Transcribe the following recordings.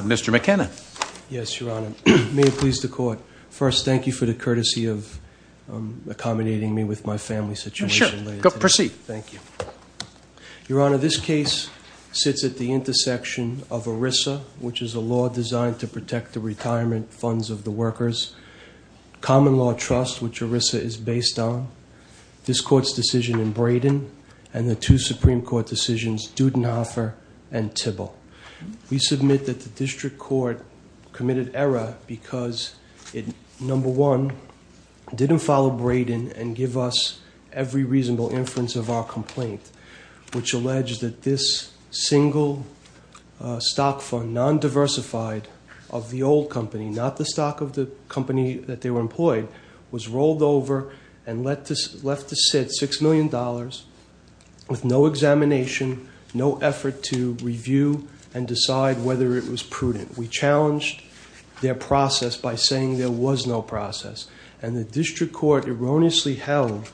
Mr. McKenna. Yes, Your Honor. May it please the Court. First, thank you for the courtesy of accommodating me with my family situation. Sure. Proceed. Thank you. Your Honor, this case sits at the intersection of ERISA, which is a law designed to protect the retirement funds of the workers, Common Law Trust, which ERISA is based on, this Court's decision in Brayden, and the two Supreme Court decisions, Dudenhofer and Tibble. We submit that the District Court committed error because it, number one, didn't follow Brayden and give us every reasonable inference of our complaint, which alleged that this single stock fund, non-diversified of the old company, not the stock of the company that they were employed, was rolled over and left to sit, $6 million, with no examination, no effort to review and decide whether it was prudent. We challenged their process by saying there was no process, and the District Court erroneously held,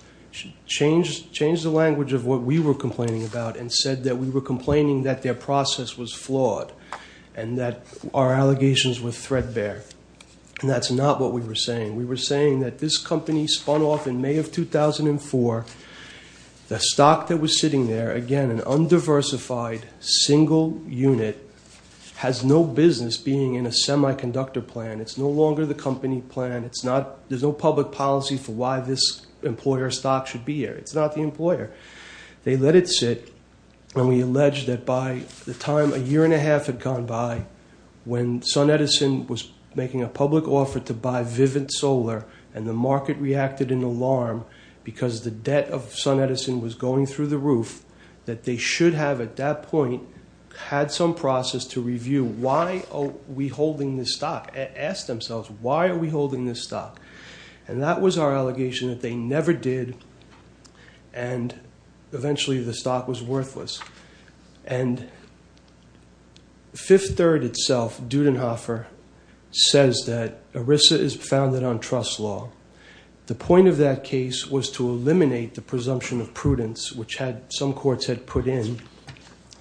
changed the language of what we were complaining about and said that we were complaining that their process was flawed and that our allegations were threadbare. And that's not what we were saying. We were saying that this company spun off in May of 2004. The stock that was sitting there, again, an undiversified single unit, has no business being in a semiconductor plant. It's no longer the company plant. It's not, there's no public policy for why this employer stock should be here. It's not the employer. They let it sit, and we alleged that by the time a year and a half had gone by, when SunEdison was making a public offer to buy Vivint Solar and the market reacted in alarm because the debt of SunEdison was going through the roof, that they should have, at that point, had some process to review why are we holding this stock, ask themselves why are we holding this stock. And that was our allegation that they never did, and eventually the stock was worthless. And Fifth Third itself, Dudenhofer, says that ERISA is founded on trust law. The point of that case was to eliminate the presumption of prudence, which some courts had put in,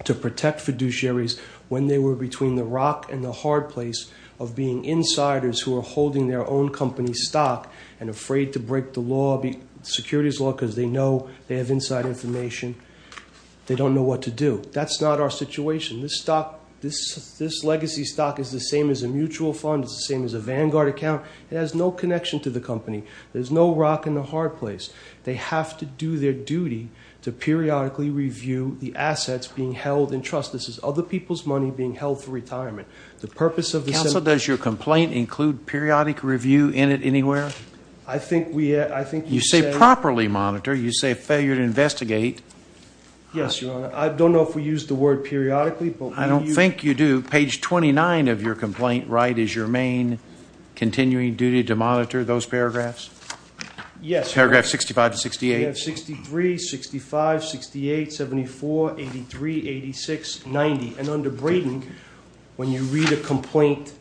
to protect fiduciaries when they were between the rock and the hard place of being insiders who are holding their own company stock and afraid to break the law, the securities law, because they know they have inside information. They don't know what to do. That's not our situation. This stock, this legacy stock is the same as a mutual fund. It's the same as a Vanguard account. It has no connection to the company. There's no rock in the hard place. They have to do their duty to periodically review the assets being held in trust. This is other people's money being held for retirement. The purpose of the... Counsel, does your complaint include periodic review in it anywhere? I think we... You say properly monitor. You say failure to investigate. Yes, Your Honor. I don't know if we use the word periodically, but... I don't think you do. Page 29 of your complaint, right, is your main continuing duty to monitor those paragraphs? Yes. Paragraph 65 to 68. We have 63, 65, 68, 74, 83, 86, 90. And under Braden, when you read a complaint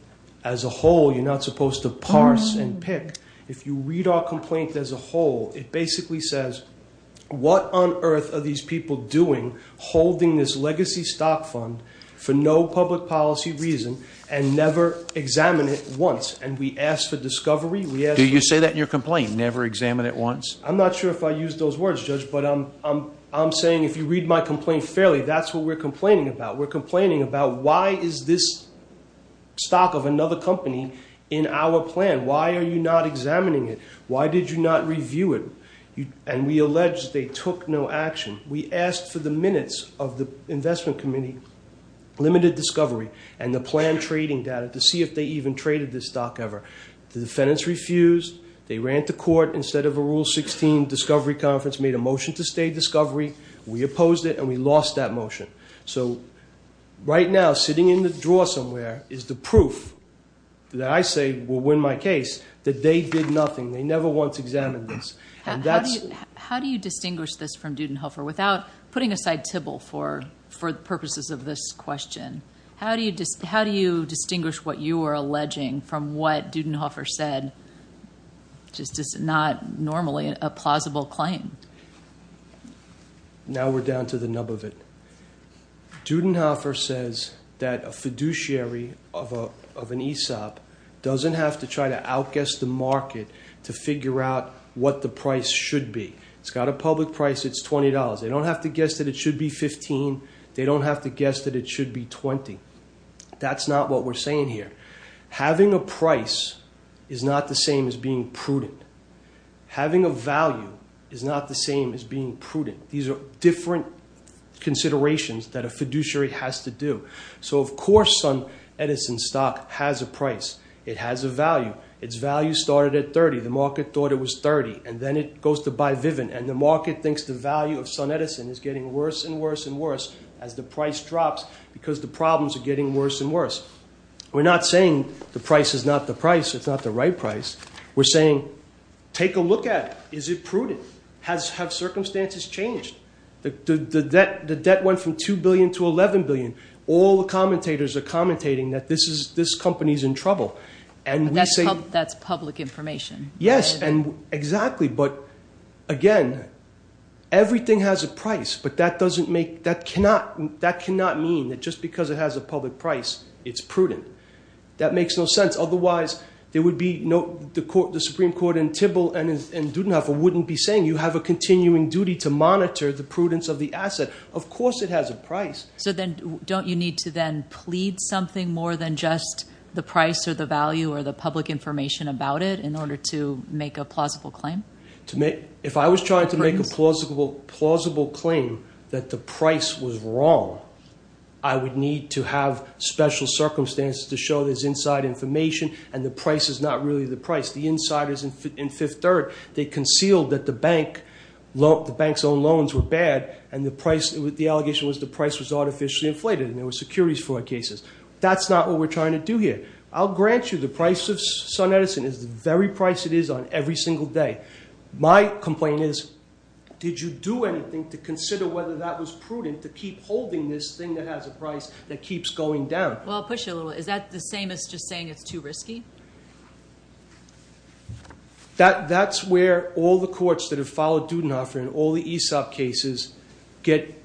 as a whole, you're not supposed to parse and pick. If you read our complaint as a whole, it basically says, what on earth are these people doing holding this legacy stock fund for no public policy reason and never examine it once? And we ask for discovery. We ask... Do you say that in your I'm not sure if I use those words, Judge, but I'm saying if you read my complaint fairly, that's what we're complaining about. We're complaining about why is this stock of another company in our plan? Why are you not examining it? Why did you not review it? And we allege they took no action. We asked for the minutes of the investment committee, limited discovery, and the plan trading data to see if they even traded this stock ever. The defendants refused. They ran to court. Instead of a Rule 16 discovery conference, made a motion to stay discovery. We opposed it and we lost that motion. So right now, sitting in the drawer somewhere is the proof that I say will win my case that they did nothing. They never once examined this. How do you distinguish this from Dudenhofer? Without putting aside Tibble for the purposes of this question, how do you distinguish what you are alleging from what Dudenhofer said, which is just not normally a plausible claim? Now we're down to the nub of it. Dudenhofer says that a fiduciary of an ESOP doesn't have to try to outguess the market to figure out what the price should be. It's got a public price. It's $20. They don't have to guess that it should be $15. They don't have to guess that it should be $20. That's not what we're saying here. Having a price is not the same as being prudent. Having a value is not the same as being prudent. These are different considerations that a fiduciary has to do. So of course SunEdison stock has a price. It has a value. Its value started at $30. The market thought it was $30 and then it goes to buy Vivint and the market thinks the value of getting worse and worse. We're not saying the price is not the price. It's not the right price. We're saying take a look at it. Is it prudent? Have circumstances changed? The debt went from $2 billion to $11 billion. All the commentators are commentating that this company is in trouble. That's public information. Yes, exactly. But again, everything has a price but that cannot mean that just because it has a public price, it's prudent. That makes no sense. Otherwise, the Supreme Court in Tybil and Dudenhofer wouldn't be saying you have a continuing duty to monitor the prudence of the asset. Of course it has a price. So then don't you need to then plead something more than just the price or the value or the public information about it in order make a plausible claim? If I was trying to make a plausible claim that the price was wrong, I would need to have special circumstances to show there's inside information and the price is not really the price. The insiders in Fifth Third, they concealed that the bank's own loans were bad and the allegation was the price was artificially inflated and there were securities for our cases. That's not what we're trying to do here. I'll grant you the price of Sun Edison is the very price it is on every single day. My complaint is, did you do anything to consider whether that was prudent to keep holding this thing that has a price that keeps going down? Well, I'll push it a little. Is that the same as just saying it's too risky? That's where all the courts that have followed Dudenhofer and all the ESOP cases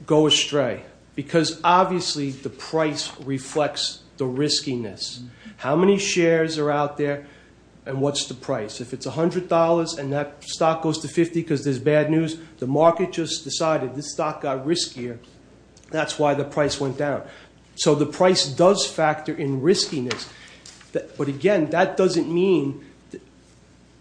go astray because obviously the price reflects the riskiness. How many shares are out there and what's the price? If it's $100 and that stock goes to 50 because there's bad news, the market just decided this stock got riskier. That's why the price went down. So the price does factor in riskiness. But again, that doesn't mean...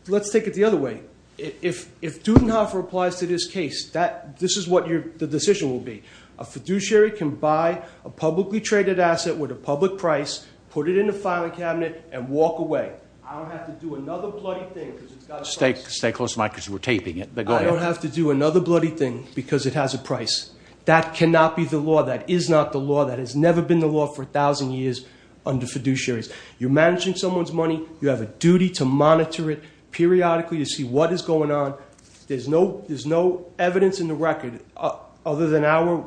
Let's take it the other way. If Dudenhofer applies to this case, this is what the decision will be. A fiduciary can buy a publicly traded asset with a public price, put it in the filing cabinet, and walk away. I don't have to do another bloody thing because it's got a price. Stay close to the mic because we're taping it, but go ahead. I don't have to do another bloody thing because it has a price. That cannot be the law. That is not the law. That has never been the law for a thousand years under fiduciaries. You're managing someone's money. You have a duty to monitor it periodically to see what is going on. There's no evidence in the record, other than our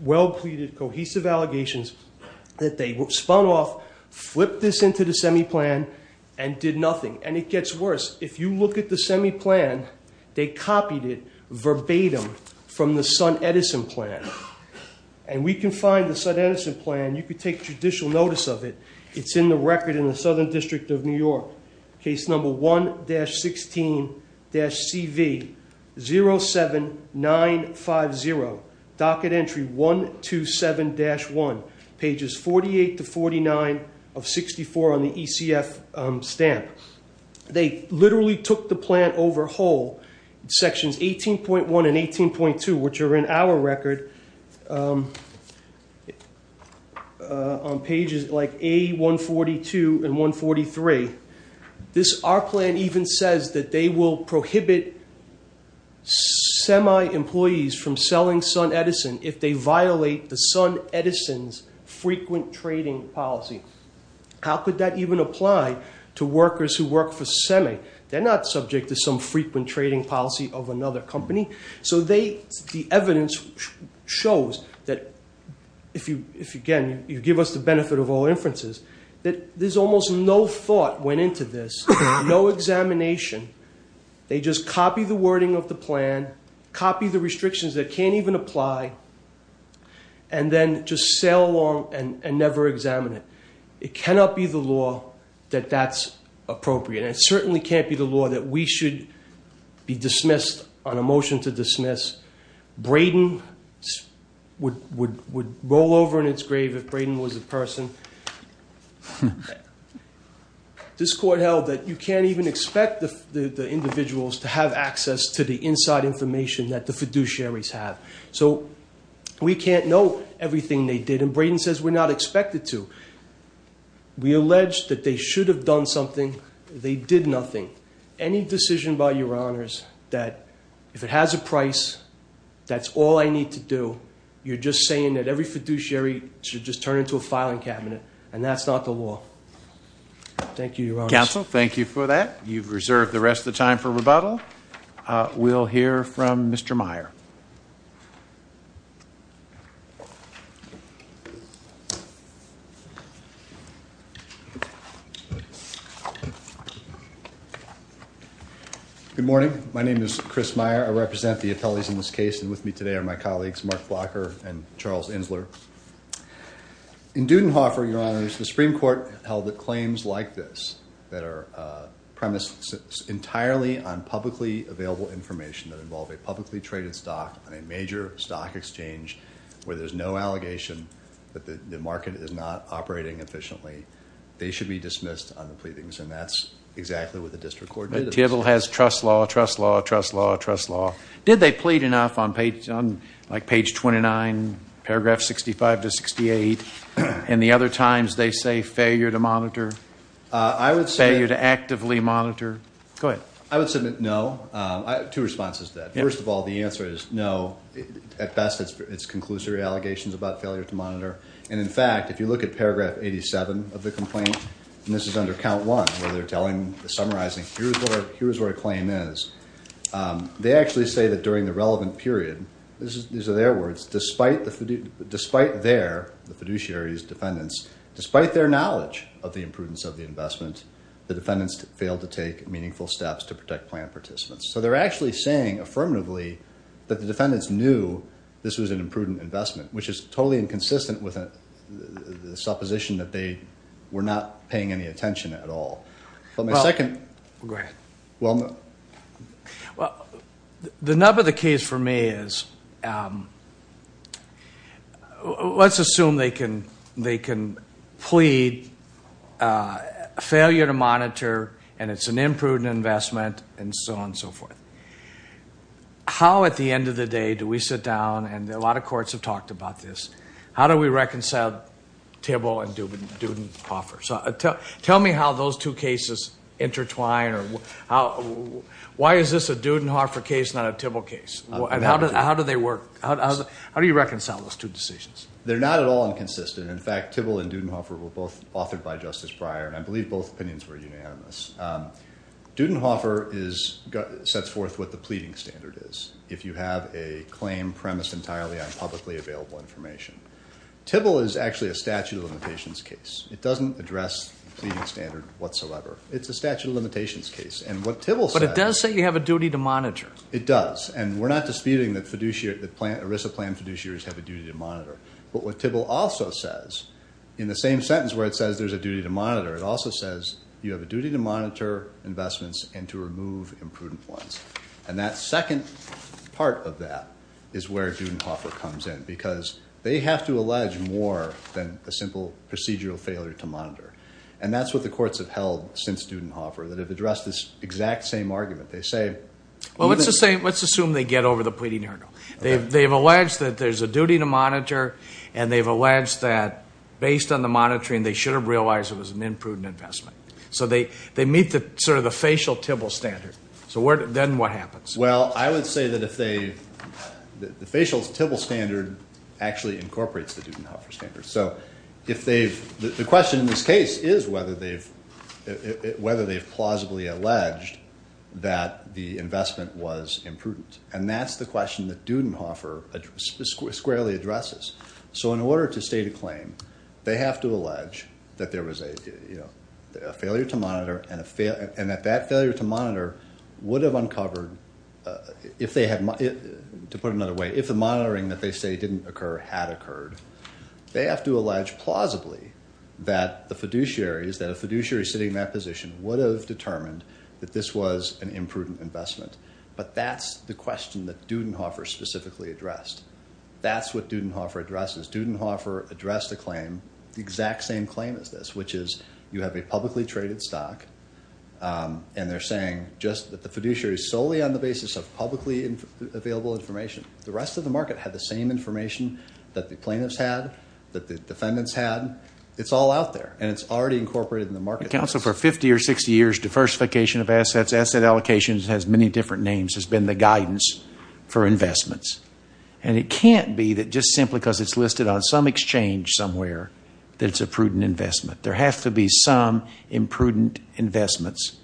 well-pleaded cohesive allegations, that they spun off, flipped this into the semi-plan, and did nothing. And it gets worse. If you look at the semi-plan, they copied it verbatim from the Sun-Edison plan. And we can find the Sun-Edison plan. You could take judicial notice of it. It's in the record in the Southern District of New York. Case number 1-16-CV-07950, docket entry 127-1, pages 48 to 49 of 64 on the ECF stamp. They literally took the plan overhaul, sections 18.1 and 18.2, which are in our record, on pages like A-142 and 143. Our plan even says that they will prohibit semi-employees from selling Sun-Edison if they violate the Sun-Edison's frequent trading policy. How could that even apply to workers who work for semi? They're not subject to some frequent trading policy of another company. So the evidence shows that, if, again, you give us the benefit of all inferences, that there's almost no thought went into this, no examination. They just copy the wording of the plan, copy the restrictions that can't even apply, and then just sail along and never examine it. It cannot be the law that that's appropriate. And it certainly can't be the law that we should be dismissed on a motion to dismiss. Brayden would roll over in its grave if Brayden was a person. This court held that you can't even expect the individuals to have access to the inside information that the fiduciaries have. So we can't know everything they did. And Brayden says we're not expected to. We allege that they should have done something. They did nothing. Any decision by Your Honors that, if it has a price, that's all I need to do, you're just saying that every fiduciary should just turn into a filing cabinet. And that's not the law. Thank you, Your Honors. Counsel, thank you for that. You've reserved the rest of the time for rebuttal. We'll hear from Mr. Meyer. Good morning. My name is Chris Meyer. I represent the appellees in this case, and with me today are my colleagues, Mark Blocker and Charles Insler. In Dudenhofer, Your Honors, the Supreme Court held that claims like this, that are premises entirely on publicly available information that involve a publicly traded stock on a major stock exchange, where there's no allegation that the market is not operating efficiently, they should be dismissed on the pleadings. And that's exactly what the district court did. Thiebaud has trust law, trust law, trust law, trust law. Did they plead enough on page 29, paragraph 65 to 68, and the other times they say failure to monitor, failure to actively monitor? Go ahead. I would submit no. I have two responses to that. First of all, the answer is no. At best, it's conclusory allegations about failure to monitor. And in fact, if you look at paragraph 87 of the complaint, and this is under count one, where they're summarizing, here's what a claim is, they actually say that during the relevant period, these are their words, despite their, the fiduciary's defendants, despite their knowledge of the imprudence of the investment, the defendants failed to take meaningful steps to protect plan participants. So they're actually saying, affirmatively, that the defendants knew this was an imprudent investment, which is totally inconsistent with the supposition that they were not paying any attention at all. But my second- Well, go ahead. Well, the nub of the case for me is, let's assume they can plead failure to monitor, and it's an imprudent investment, and so on and so forth. How, at the end of the day, do we sit down, and a lot of courts have talked about this, how do we reconcile Tibble and Dudenhofer? So tell me how those two cases intertwine, or how, why is this a Dudenhofer case, not a Tibble case? How do they work? How do you reconcile those two decisions? They're not at all inconsistent. In fact, Tibble and Dudenhofer were both authored by Justice Breyer, and I believe both opinions were unanimous. Dudenhofer is, sets forth what the pleading standard is, if you have a claim premised entirely on publicly available information. Tibble is actually a statute of limitations case. It doesn't address the standard whatsoever. It's a statute of limitations case. And what Tibble says- But it does say you have a duty to monitor. It does. And we're not disputing that fiduciary, that ERISA plan fiduciaries have a duty to monitor. But what Tibble also says, in the same sentence where it says there's a duty to monitor, it also says you have a duty to monitor investments and to remove imprudent ones. And that second part of that is where Dudenhofer comes in, because they have to allege more than a simple procedural failure to monitor. And that's what the courts have held since Dudenhofer, that have addressed this exact same argument. They say- Well, let's assume they get over the pleading hurdle. They've alleged that there's a duty to monitor, and they've alleged that based on the monitoring, they should have realized it was an imprudent investment. So they meet the sort of the facial Tibble standard. So then what happens? Well, I would say that if they- the facial Tibble standard actually incorporates the Dudenhofer standard. So if they've- the question in this case is whether they've plausibly alleged that the investment was imprudent. And that's the question that Dudenhofer squarely addresses. So in order to state a claim, they have to allege that there was a failure to monitor, and that that failure to monitor would have uncovered if they had- to put it another way, if the monitoring that they say didn't occur had occurred, they have to allege plausibly that the fiduciaries, that a fiduciary sitting in that position would have determined that this was an imprudent investment. But that's the question that Dudenhofer specifically addressed. That's what Dudenhofer addresses. Dudenhofer addressed the claim, the exact same claim as this, which is you have a publicly traded stock, and they're saying just that the fiduciary is solely on the basis of publicly available information. The rest of the market had the same information that the plaintiffs had, that the defendants had. It's all out there, and it's already incorporated in the market. The Council for 50 or 60 years diversification of assets, asset allocations, has many different names, has been the guidance for investments. And it can't be that just simply because it's listed on some exchange somewhere that it's a prudent investment. There have to be some imprudent investments.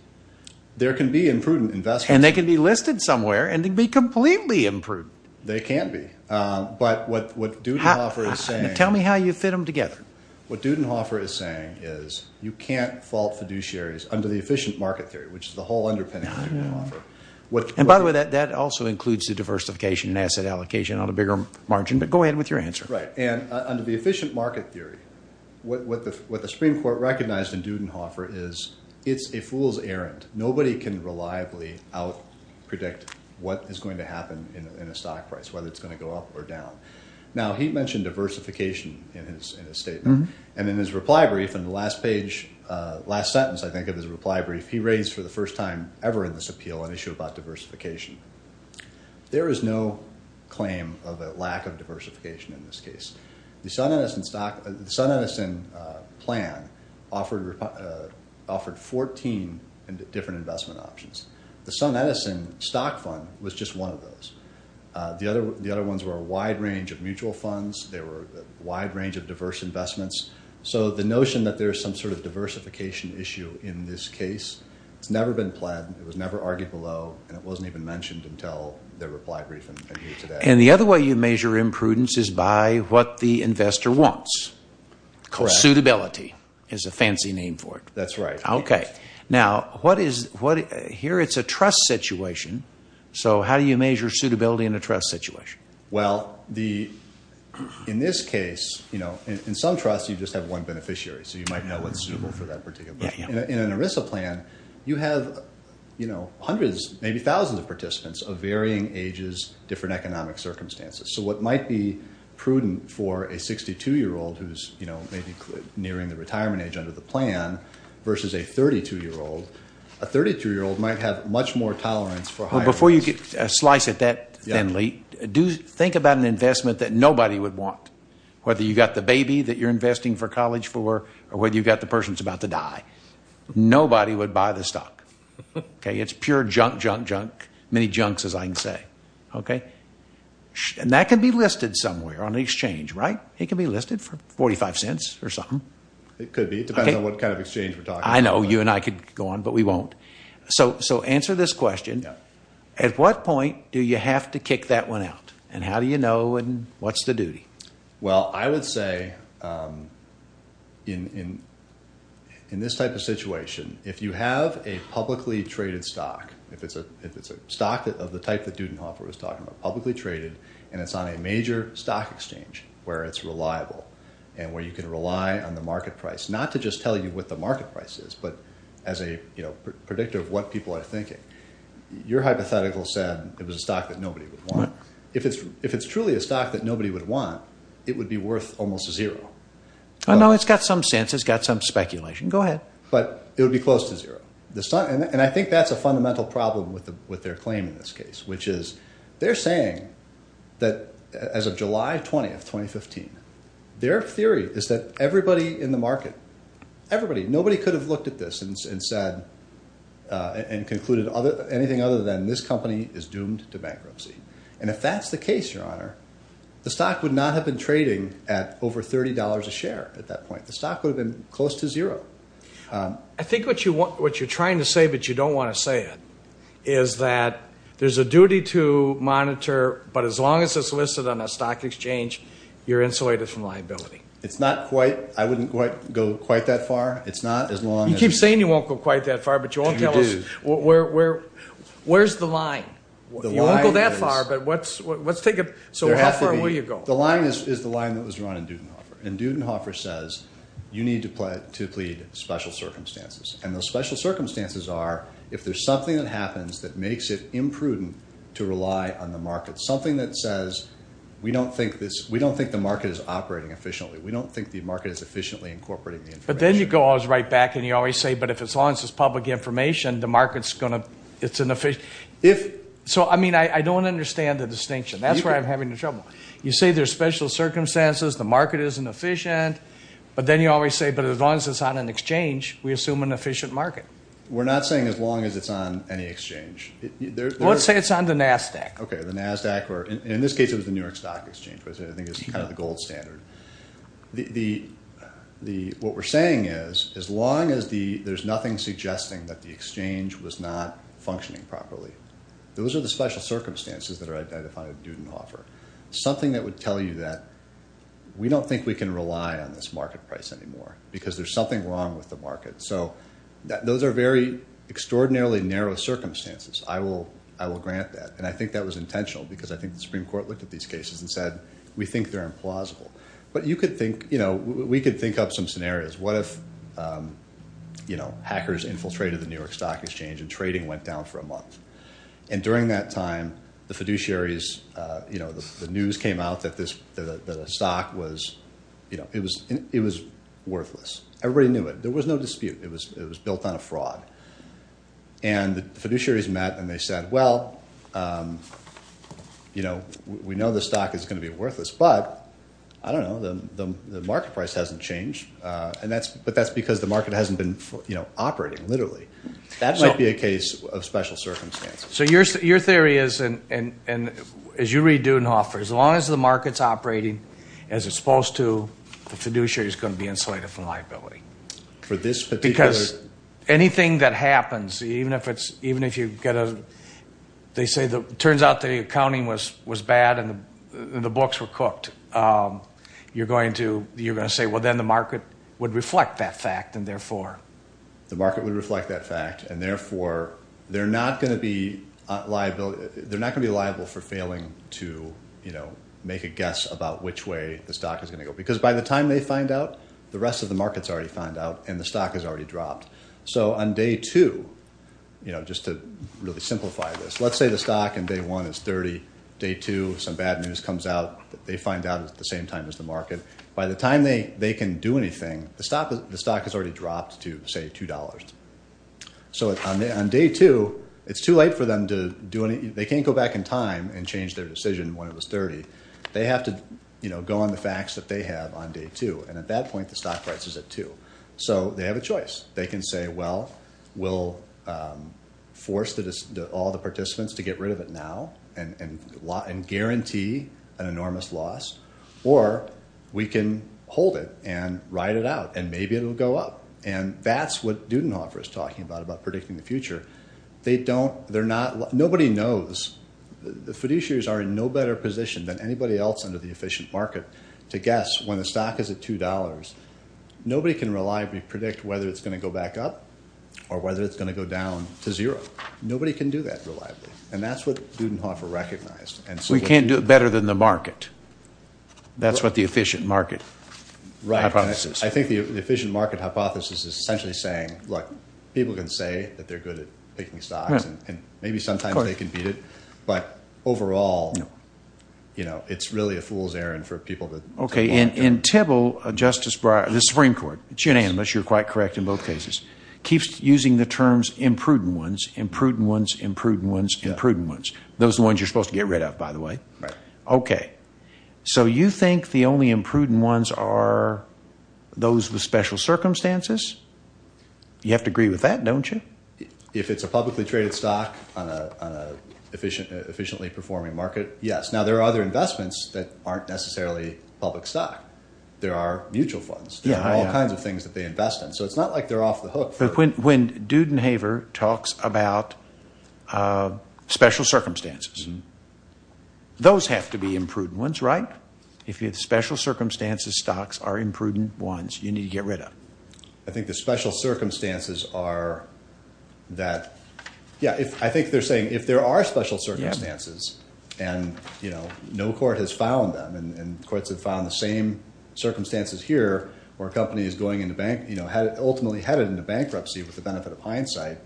There can be imprudent investments. And they can be listed somewhere, and they can be completely imprudent. They can be. But what Dudenhofer is saying- Tell me how you fit them together. What Dudenhofer is saying is you can't fault fiduciaries under the efficient market theory, which is the whole underpinning of Dudenhofer. And by the way, that also includes the diversification and asset allocation on a bigger margin. But go ahead with your answer. Right. And under the efficient market theory, what the Supreme Court recognized in Dudenhofer is it's a fool's errand. Nobody can reliably out-predict what is going to happen in a stock price, whether it's going to go up or down. Now, he mentioned diversification in his statement. And in his reply brief, in the last page, last sentence, I think, of his reply brief, he raised for the first time ever in this appeal an issue about diversification. There is no claim of a lack of diversification in this case. The SunEdison plan offered 14 different investment options. The SunEdison stock fund was just one of those. The other ones were a wide range of mutual funds. They were a wide range of diverse investments. So the notion that there is some sort of diversification issue in this case, it's never been planned. It was never argued below. And it wasn't even mentioned until the reply brief and here today. And the other way you measure imprudence is by what the investor wants. Correct. Because suitability is a fancy name for it. That's right. Okay. Now, here it's a trust situation. So how do you measure suitability in a trust situation? Well, in this case, in some trusts, you just have one beneficiary. So you might know what's suitable for that particular. In an ERISA plan, you have hundreds, maybe thousands of participants of varying ages, different economic circumstances. So what might be prudent for a 62-year-old who's nearing the retirement age under the plan versus a 32-year-old, Before you slice it that thinly, do think about an investment that nobody would want. Whether you've got the baby that you're investing for college for, or whether you've got the person who's about to die. Nobody would buy the stock. It's pure junk, junk, junk. Many junks, as I can say. And that can be listed somewhere on the exchange, right? It can be listed for 45 cents or something. It could be. It depends on what kind of exchange we're talking about. I know. You and I could go on, but we won't. So answer this question. At what point do you have to kick that one out? And how do you know? And what's the duty? Well, I would say in this type of situation, if you have a publicly traded stock, if it's a stock of the type that Dudenhofer was talking about, publicly traded, and it's on a major stock exchange where it's reliable and where you can rely on the market price, not to just tell you what the market price is, as a predictor of what people are thinking, your hypothetical said it was a stock that nobody would want. If it's truly a stock that nobody would want, it would be worth almost zero. I know it's got some sense. It's got some speculation. Go ahead. But it would be close to zero. And I think that's a fundamental problem with their claim in this case, which is they're saying that as of July 20th, 2015, their theory is that everybody in the market, everybody, nobody could have looked at this and said, and concluded anything other than this company is doomed to bankruptcy. And if that's the case, your honor, the stock would not have been trading at over $30 a share at that point. The stock would have been close to zero. I think what you're trying to say, but you don't want to say it, is that there's a duty to monitor, but as long as it's listed on a stock exchange, you're insulated from liability. It's not quite, I wouldn't quite go quite that far. It's not as long as you keep saying you won't go quite that far, but you won't tell us where, where, where's the line. You won't go that far, but what's, what's take up. So how far will you go? The line is, is the line that was run in Dudenhofer. And Dudenhofer says you need to play to plead special circumstances. And those special circumstances are, if there's something that happens that makes it imprudent to rely on the market, something that says, we don't think this, we don't think the market is operating efficiently. We don't think the market is efficiently incorporating the information. But then you go always right back and you always say, but if it's, as long as it's public information, the market's going to, it's an efficient, if, so, I mean, I don't understand the distinction. That's where I'm having trouble. You say there's special circumstances, the market isn't efficient, but then you always say, but as long as it's on an exchange, we assume an efficient market. We're not saying as long as it's on any exchange. Let's say it's on the NASDAQ. Okay, the NASDAQ, or in this case, it was the New York Stock Exchange, I think it's kind of the gold standard. What we're saying is, as long as the, there's nothing suggesting that the exchange was not functioning properly. Those are the special circumstances that are identified at Dudenhofer. Something that would tell you that we don't think we can rely on this market price anymore because there's something wrong with the market. So those are very extraordinarily narrow circumstances. I will grant that. And I think that was intentional because I think the Supreme Court looked at these cases and said, we think they're implausible. But you could think, we could think up some scenarios. What if hackers infiltrated the New York Stock Exchange and trading went down for a month? And during that time, the fiduciaries, the news came out that the stock was, it was worthless. Everybody knew it. There was no dispute. It was built on a fraud. And the fiduciaries met and they said, well, we know the stock is going to be worthless. But, I don't know, the market price hasn't changed. But that's because the market hasn't been operating, literally. That might be a case of special circumstances. So your theory is, and as you read Dudenhofer, as long as the market's operating as it's supposed to, the fiduciary is going to be insulated from liability. For this particular- Because anything that happens, even if it's, even if you get a, they say, it turns out the accounting was bad and the books were cooked, you're going to, you're going to say, well, then the market would reflect that fact. And therefore- The market would reflect that fact. And therefore, they're not going to be liable, they're not going to be liable for failing to, you know, make a guess about which way the stock is going to go. Because by the time they find out, the rest of the market's already found out and the stock has already dropped. So on day two, you know, just to really simplify this, let's say the stock in day one is 30. Day two, some bad news comes out, they find out at the same time as the market. By the time they can do anything, the stock has already dropped to, say, $2. So on day two, it's too late for them to do any, they can't go back in time and change their decision when it was 30. They have to, you know, go on the facts that they have on day two. And at that point, the stock price is at two. So they have a choice. They can say, well, we'll force all the participants to get rid of it now and guarantee an enormous loss. Or we can hold it and ride it out and maybe it'll go up. And that's what Dudenhofer is talking about, about predicting the future. They don't, they're not, nobody knows. The fiduciaries are in no better position than anybody else under the efficient market to guess when the stock is at $2. Nobody can reliably predict whether it's going to go back up or whether it's going to go down to zero. Nobody can do that reliably. And that's what Dudenhofer recognized. And so we can't do it better than the market. That's what the efficient market hypothesis. I think the efficient market hypothesis is essentially saying, look, people can say that they're good at picking stocks and maybe sometimes they can beat it. But overall, you know, it's really a fool's errand for people to... Okay. And in Tibble, Justice Breyer, the Supreme Court, it's unanimous, you're quite correct in both cases, keeps using the terms imprudent ones, imprudent ones, imprudent ones, imprudent ones. Those are the ones you're supposed to get rid of, by the way. Right. Okay. So you think the only imprudent ones are those with special circumstances? You have to agree with that, don't you? If it's a publicly traded stock on an efficiently performing market, yes. Now, there are other investments that aren't necessarily public stock. There are mutual funds. There are all kinds of things that they invest in. So it's not like they're off the hook. But when Dudenhofer talks about special circumstances, those have to be imprudent ones, right? If you have special circumstances, stocks are imprudent ones you need to get rid of. I think the special circumstances are that... Yeah, I think they're saying if there are special circumstances, and no court has found them, and courts have found the same circumstances here, where a company is ultimately headed into bankruptcy with the benefit of hindsight,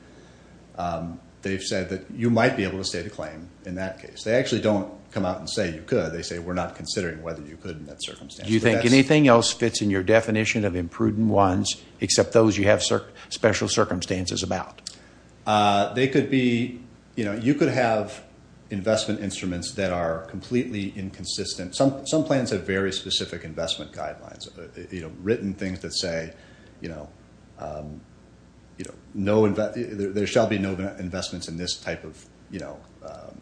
they've said that you might be able to state a claim in that case. They actually don't come out and say you could. They say we're not considering whether you could in that circumstance. Do you think anything else fits in your definition of imprudent ones, except those you have special circumstances about? You could have investment instruments that are completely inconsistent. Some plans have very specific investment guidelines, written things that say, there shall be no investments in this type of...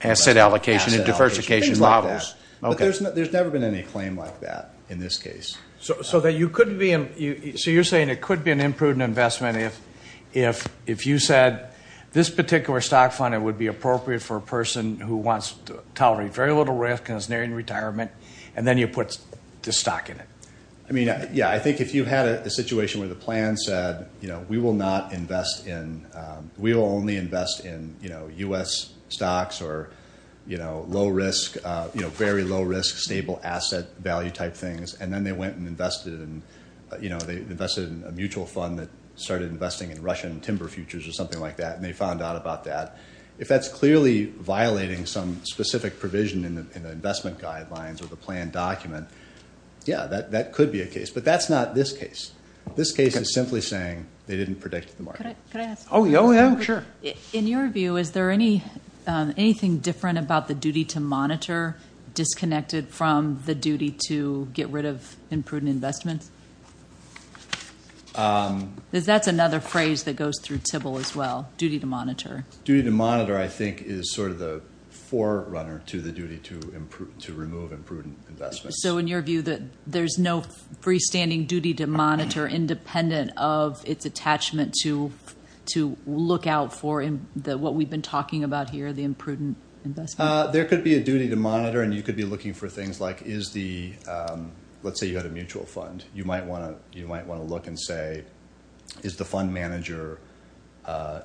Asset allocation and diversification. Things like that. There's never been any claim like that in this case. So you're saying it could be an imprudent investment if you said, this particular stock fund, it would be appropriate for a person who wants to tolerate very little risk and is nearing retirement, and then you put the stock in it. I mean, yeah. I think if you had a situation where the plan said, we will only invest in U.S. stocks or very low risk, stable asset value type things, and then they went and invested in a mutual fund that started investing in Russian timber futures or something like that, and they found out about that. If that's clearly violating some specific provision in the investment guidelines or the plan document, yeah, that could be a case. But that's not this case. This case is simply saying they didn't predict the market. Could I ask a question? Oh, yeah, sure. In your view, is there anything different about the duty to monitor disconnected from the duty to get rid of imprudent investments? That's another phrase that goes through TIBL as well. Duty to monitor. Duty to monitor, I think, is sort of the forerunner to the duty to remove imprudent investments. So in your view, there's no freestanding duty to monitor independent of its attachment to look out for what we've been talking about here, the imprudent investment? There could be a duty to monitor, and you could be looking for things like, let's say you had a mutual fund. You might want to look and say, is the fund manager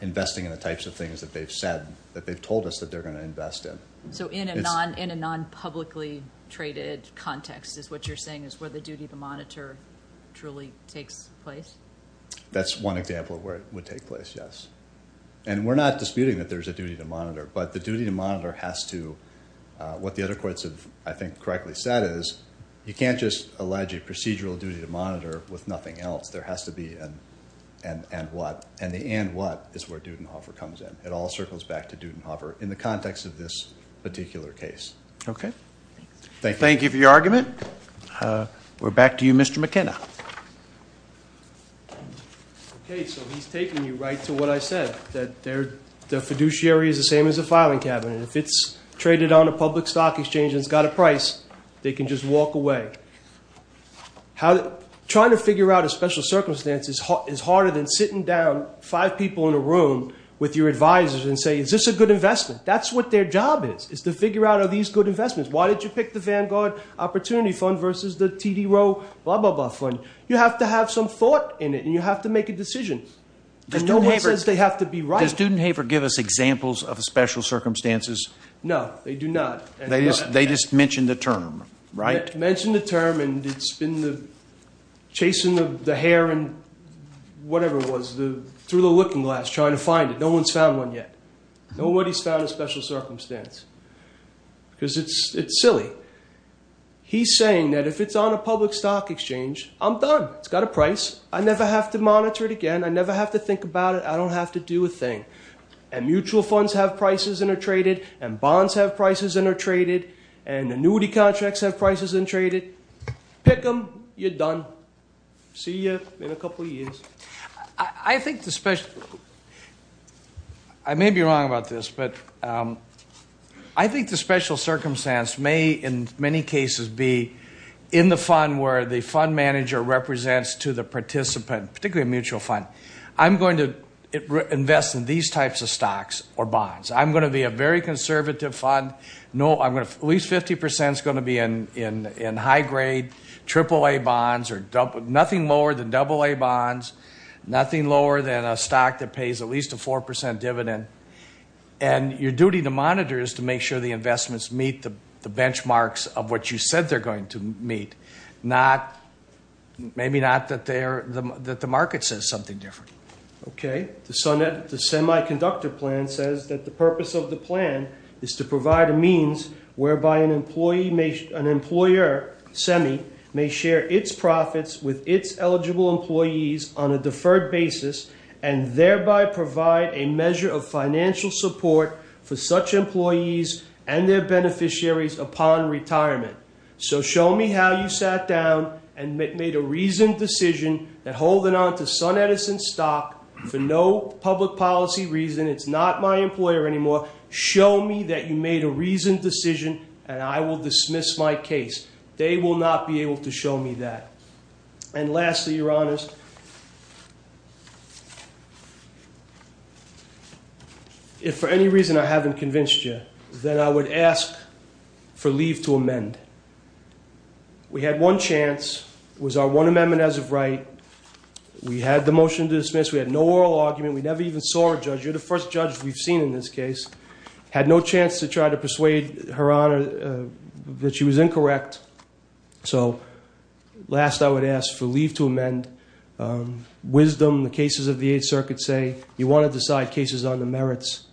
investing in the types of things that they've said, that they've told us that they're going to invest in? So in a non-publicly traded context is what you're saying is where the duty to monitor truly takes place? That's one example of where it would take place, yes. And we're not disputing that there's a duty to monitor, but the duty to monitor has to, what the other courts have, I think, correctly said is, you can't just allege a procedural duty to monitor with nothing else. There has to be an and what. And the and what is where Dudenhofer comes in. It all circles back to Dudenhofer. In the context of this particular case. Okay, thank you for your argument. We're back to you, Mr. McKenna. Okay, so he's taking you right to what I said, that the fiduciary is the same as a filing cabinet. If it's traded on a public stock exchange and it's got a price, they can just walk away. Trying to figure out a special circumstance is harder than sitting down, five people in a room with your advisors and say, is this a good investment? That's what their job is, is to figure out are these good investments? Why did you pick the Vanguard Opportunity Fund versus the TD Roe, blah, blah, blah fund? You have to have some thought in it and you have to make a decision. And no one says they have to be right. Does Dudenhofer give us examples of special circumstances? No, they do not. They just mentioned the term, right? Mentioned the term and it's been the chasing of the hare and whatever it was through the looking glass, trying to find it. No one's found one yet. Nobody's found a special circumstance because it's silly. He's saying that if it's on a public stock exchange, I'm done. It's got a price. I never have to monitor it again. I never have to think about it. I don't have to do a thing. And mutual funds have prices and are traded and bonds have prices and are traded and annuity contracts have prices and traded. Pick them, you're done. See you in a couple of years. I think the special, I may be wrong about this, but I think the special circumstance may in many cases be in the fund where the fund manager represents to the participant, particularly a mutual fund. I'm going to invest in these types of stocks or bonds. I'm going to be a very conservative fund. No, I'm going to, at least 50% is going to be in high grade triple A bonds or nothing lower than double A bonds, nothing lower than a stock that pays at least a 4% dividend. And your duty to monitor is to make sure the investments meet the benchmarks of what you said they're going to meet. Maybe not that the market says something different. Okay, the semiconductor plan says that the purpose of the plan is to provide a means whereby an employer, SEMI, may share its profits with its eligible employees on a deferred basis and thereby provide a measure of financial support for such employees and their beneficiaries upon retirement. So show me how you sat down and made a reasoned decision that holding onto SunEdison stock for no public policy reason, it's not my employer anymore, show me that you made a reasoned decision and I will dismiss my case. They will not be able to show me that. And lastly, your honors, if for any reason I haven't convinced you, then I would ask for leave to amend. We had one chance, was our one amendment as of right. We had the motion to dismiss. We had no oral argument. We never even saw a judge. You're the first judge we've seen in this case. Had no chance to try to persuade her honor that she was incorrect. So last I would ask for leave to amend. Wisdom, the cases of the Eighth Circuit say, you want to decide cases on the merits.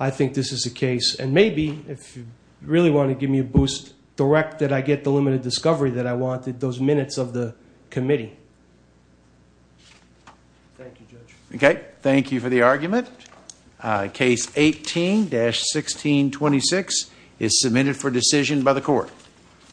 I think this is the case and maybe if you really want to give me a boost, direct that I get the limited discovery that I wanted, those minutes of the committee. Thank you, Judge. Okay, thank you for the argument. Case 18-1626 is submitted for decision by the court.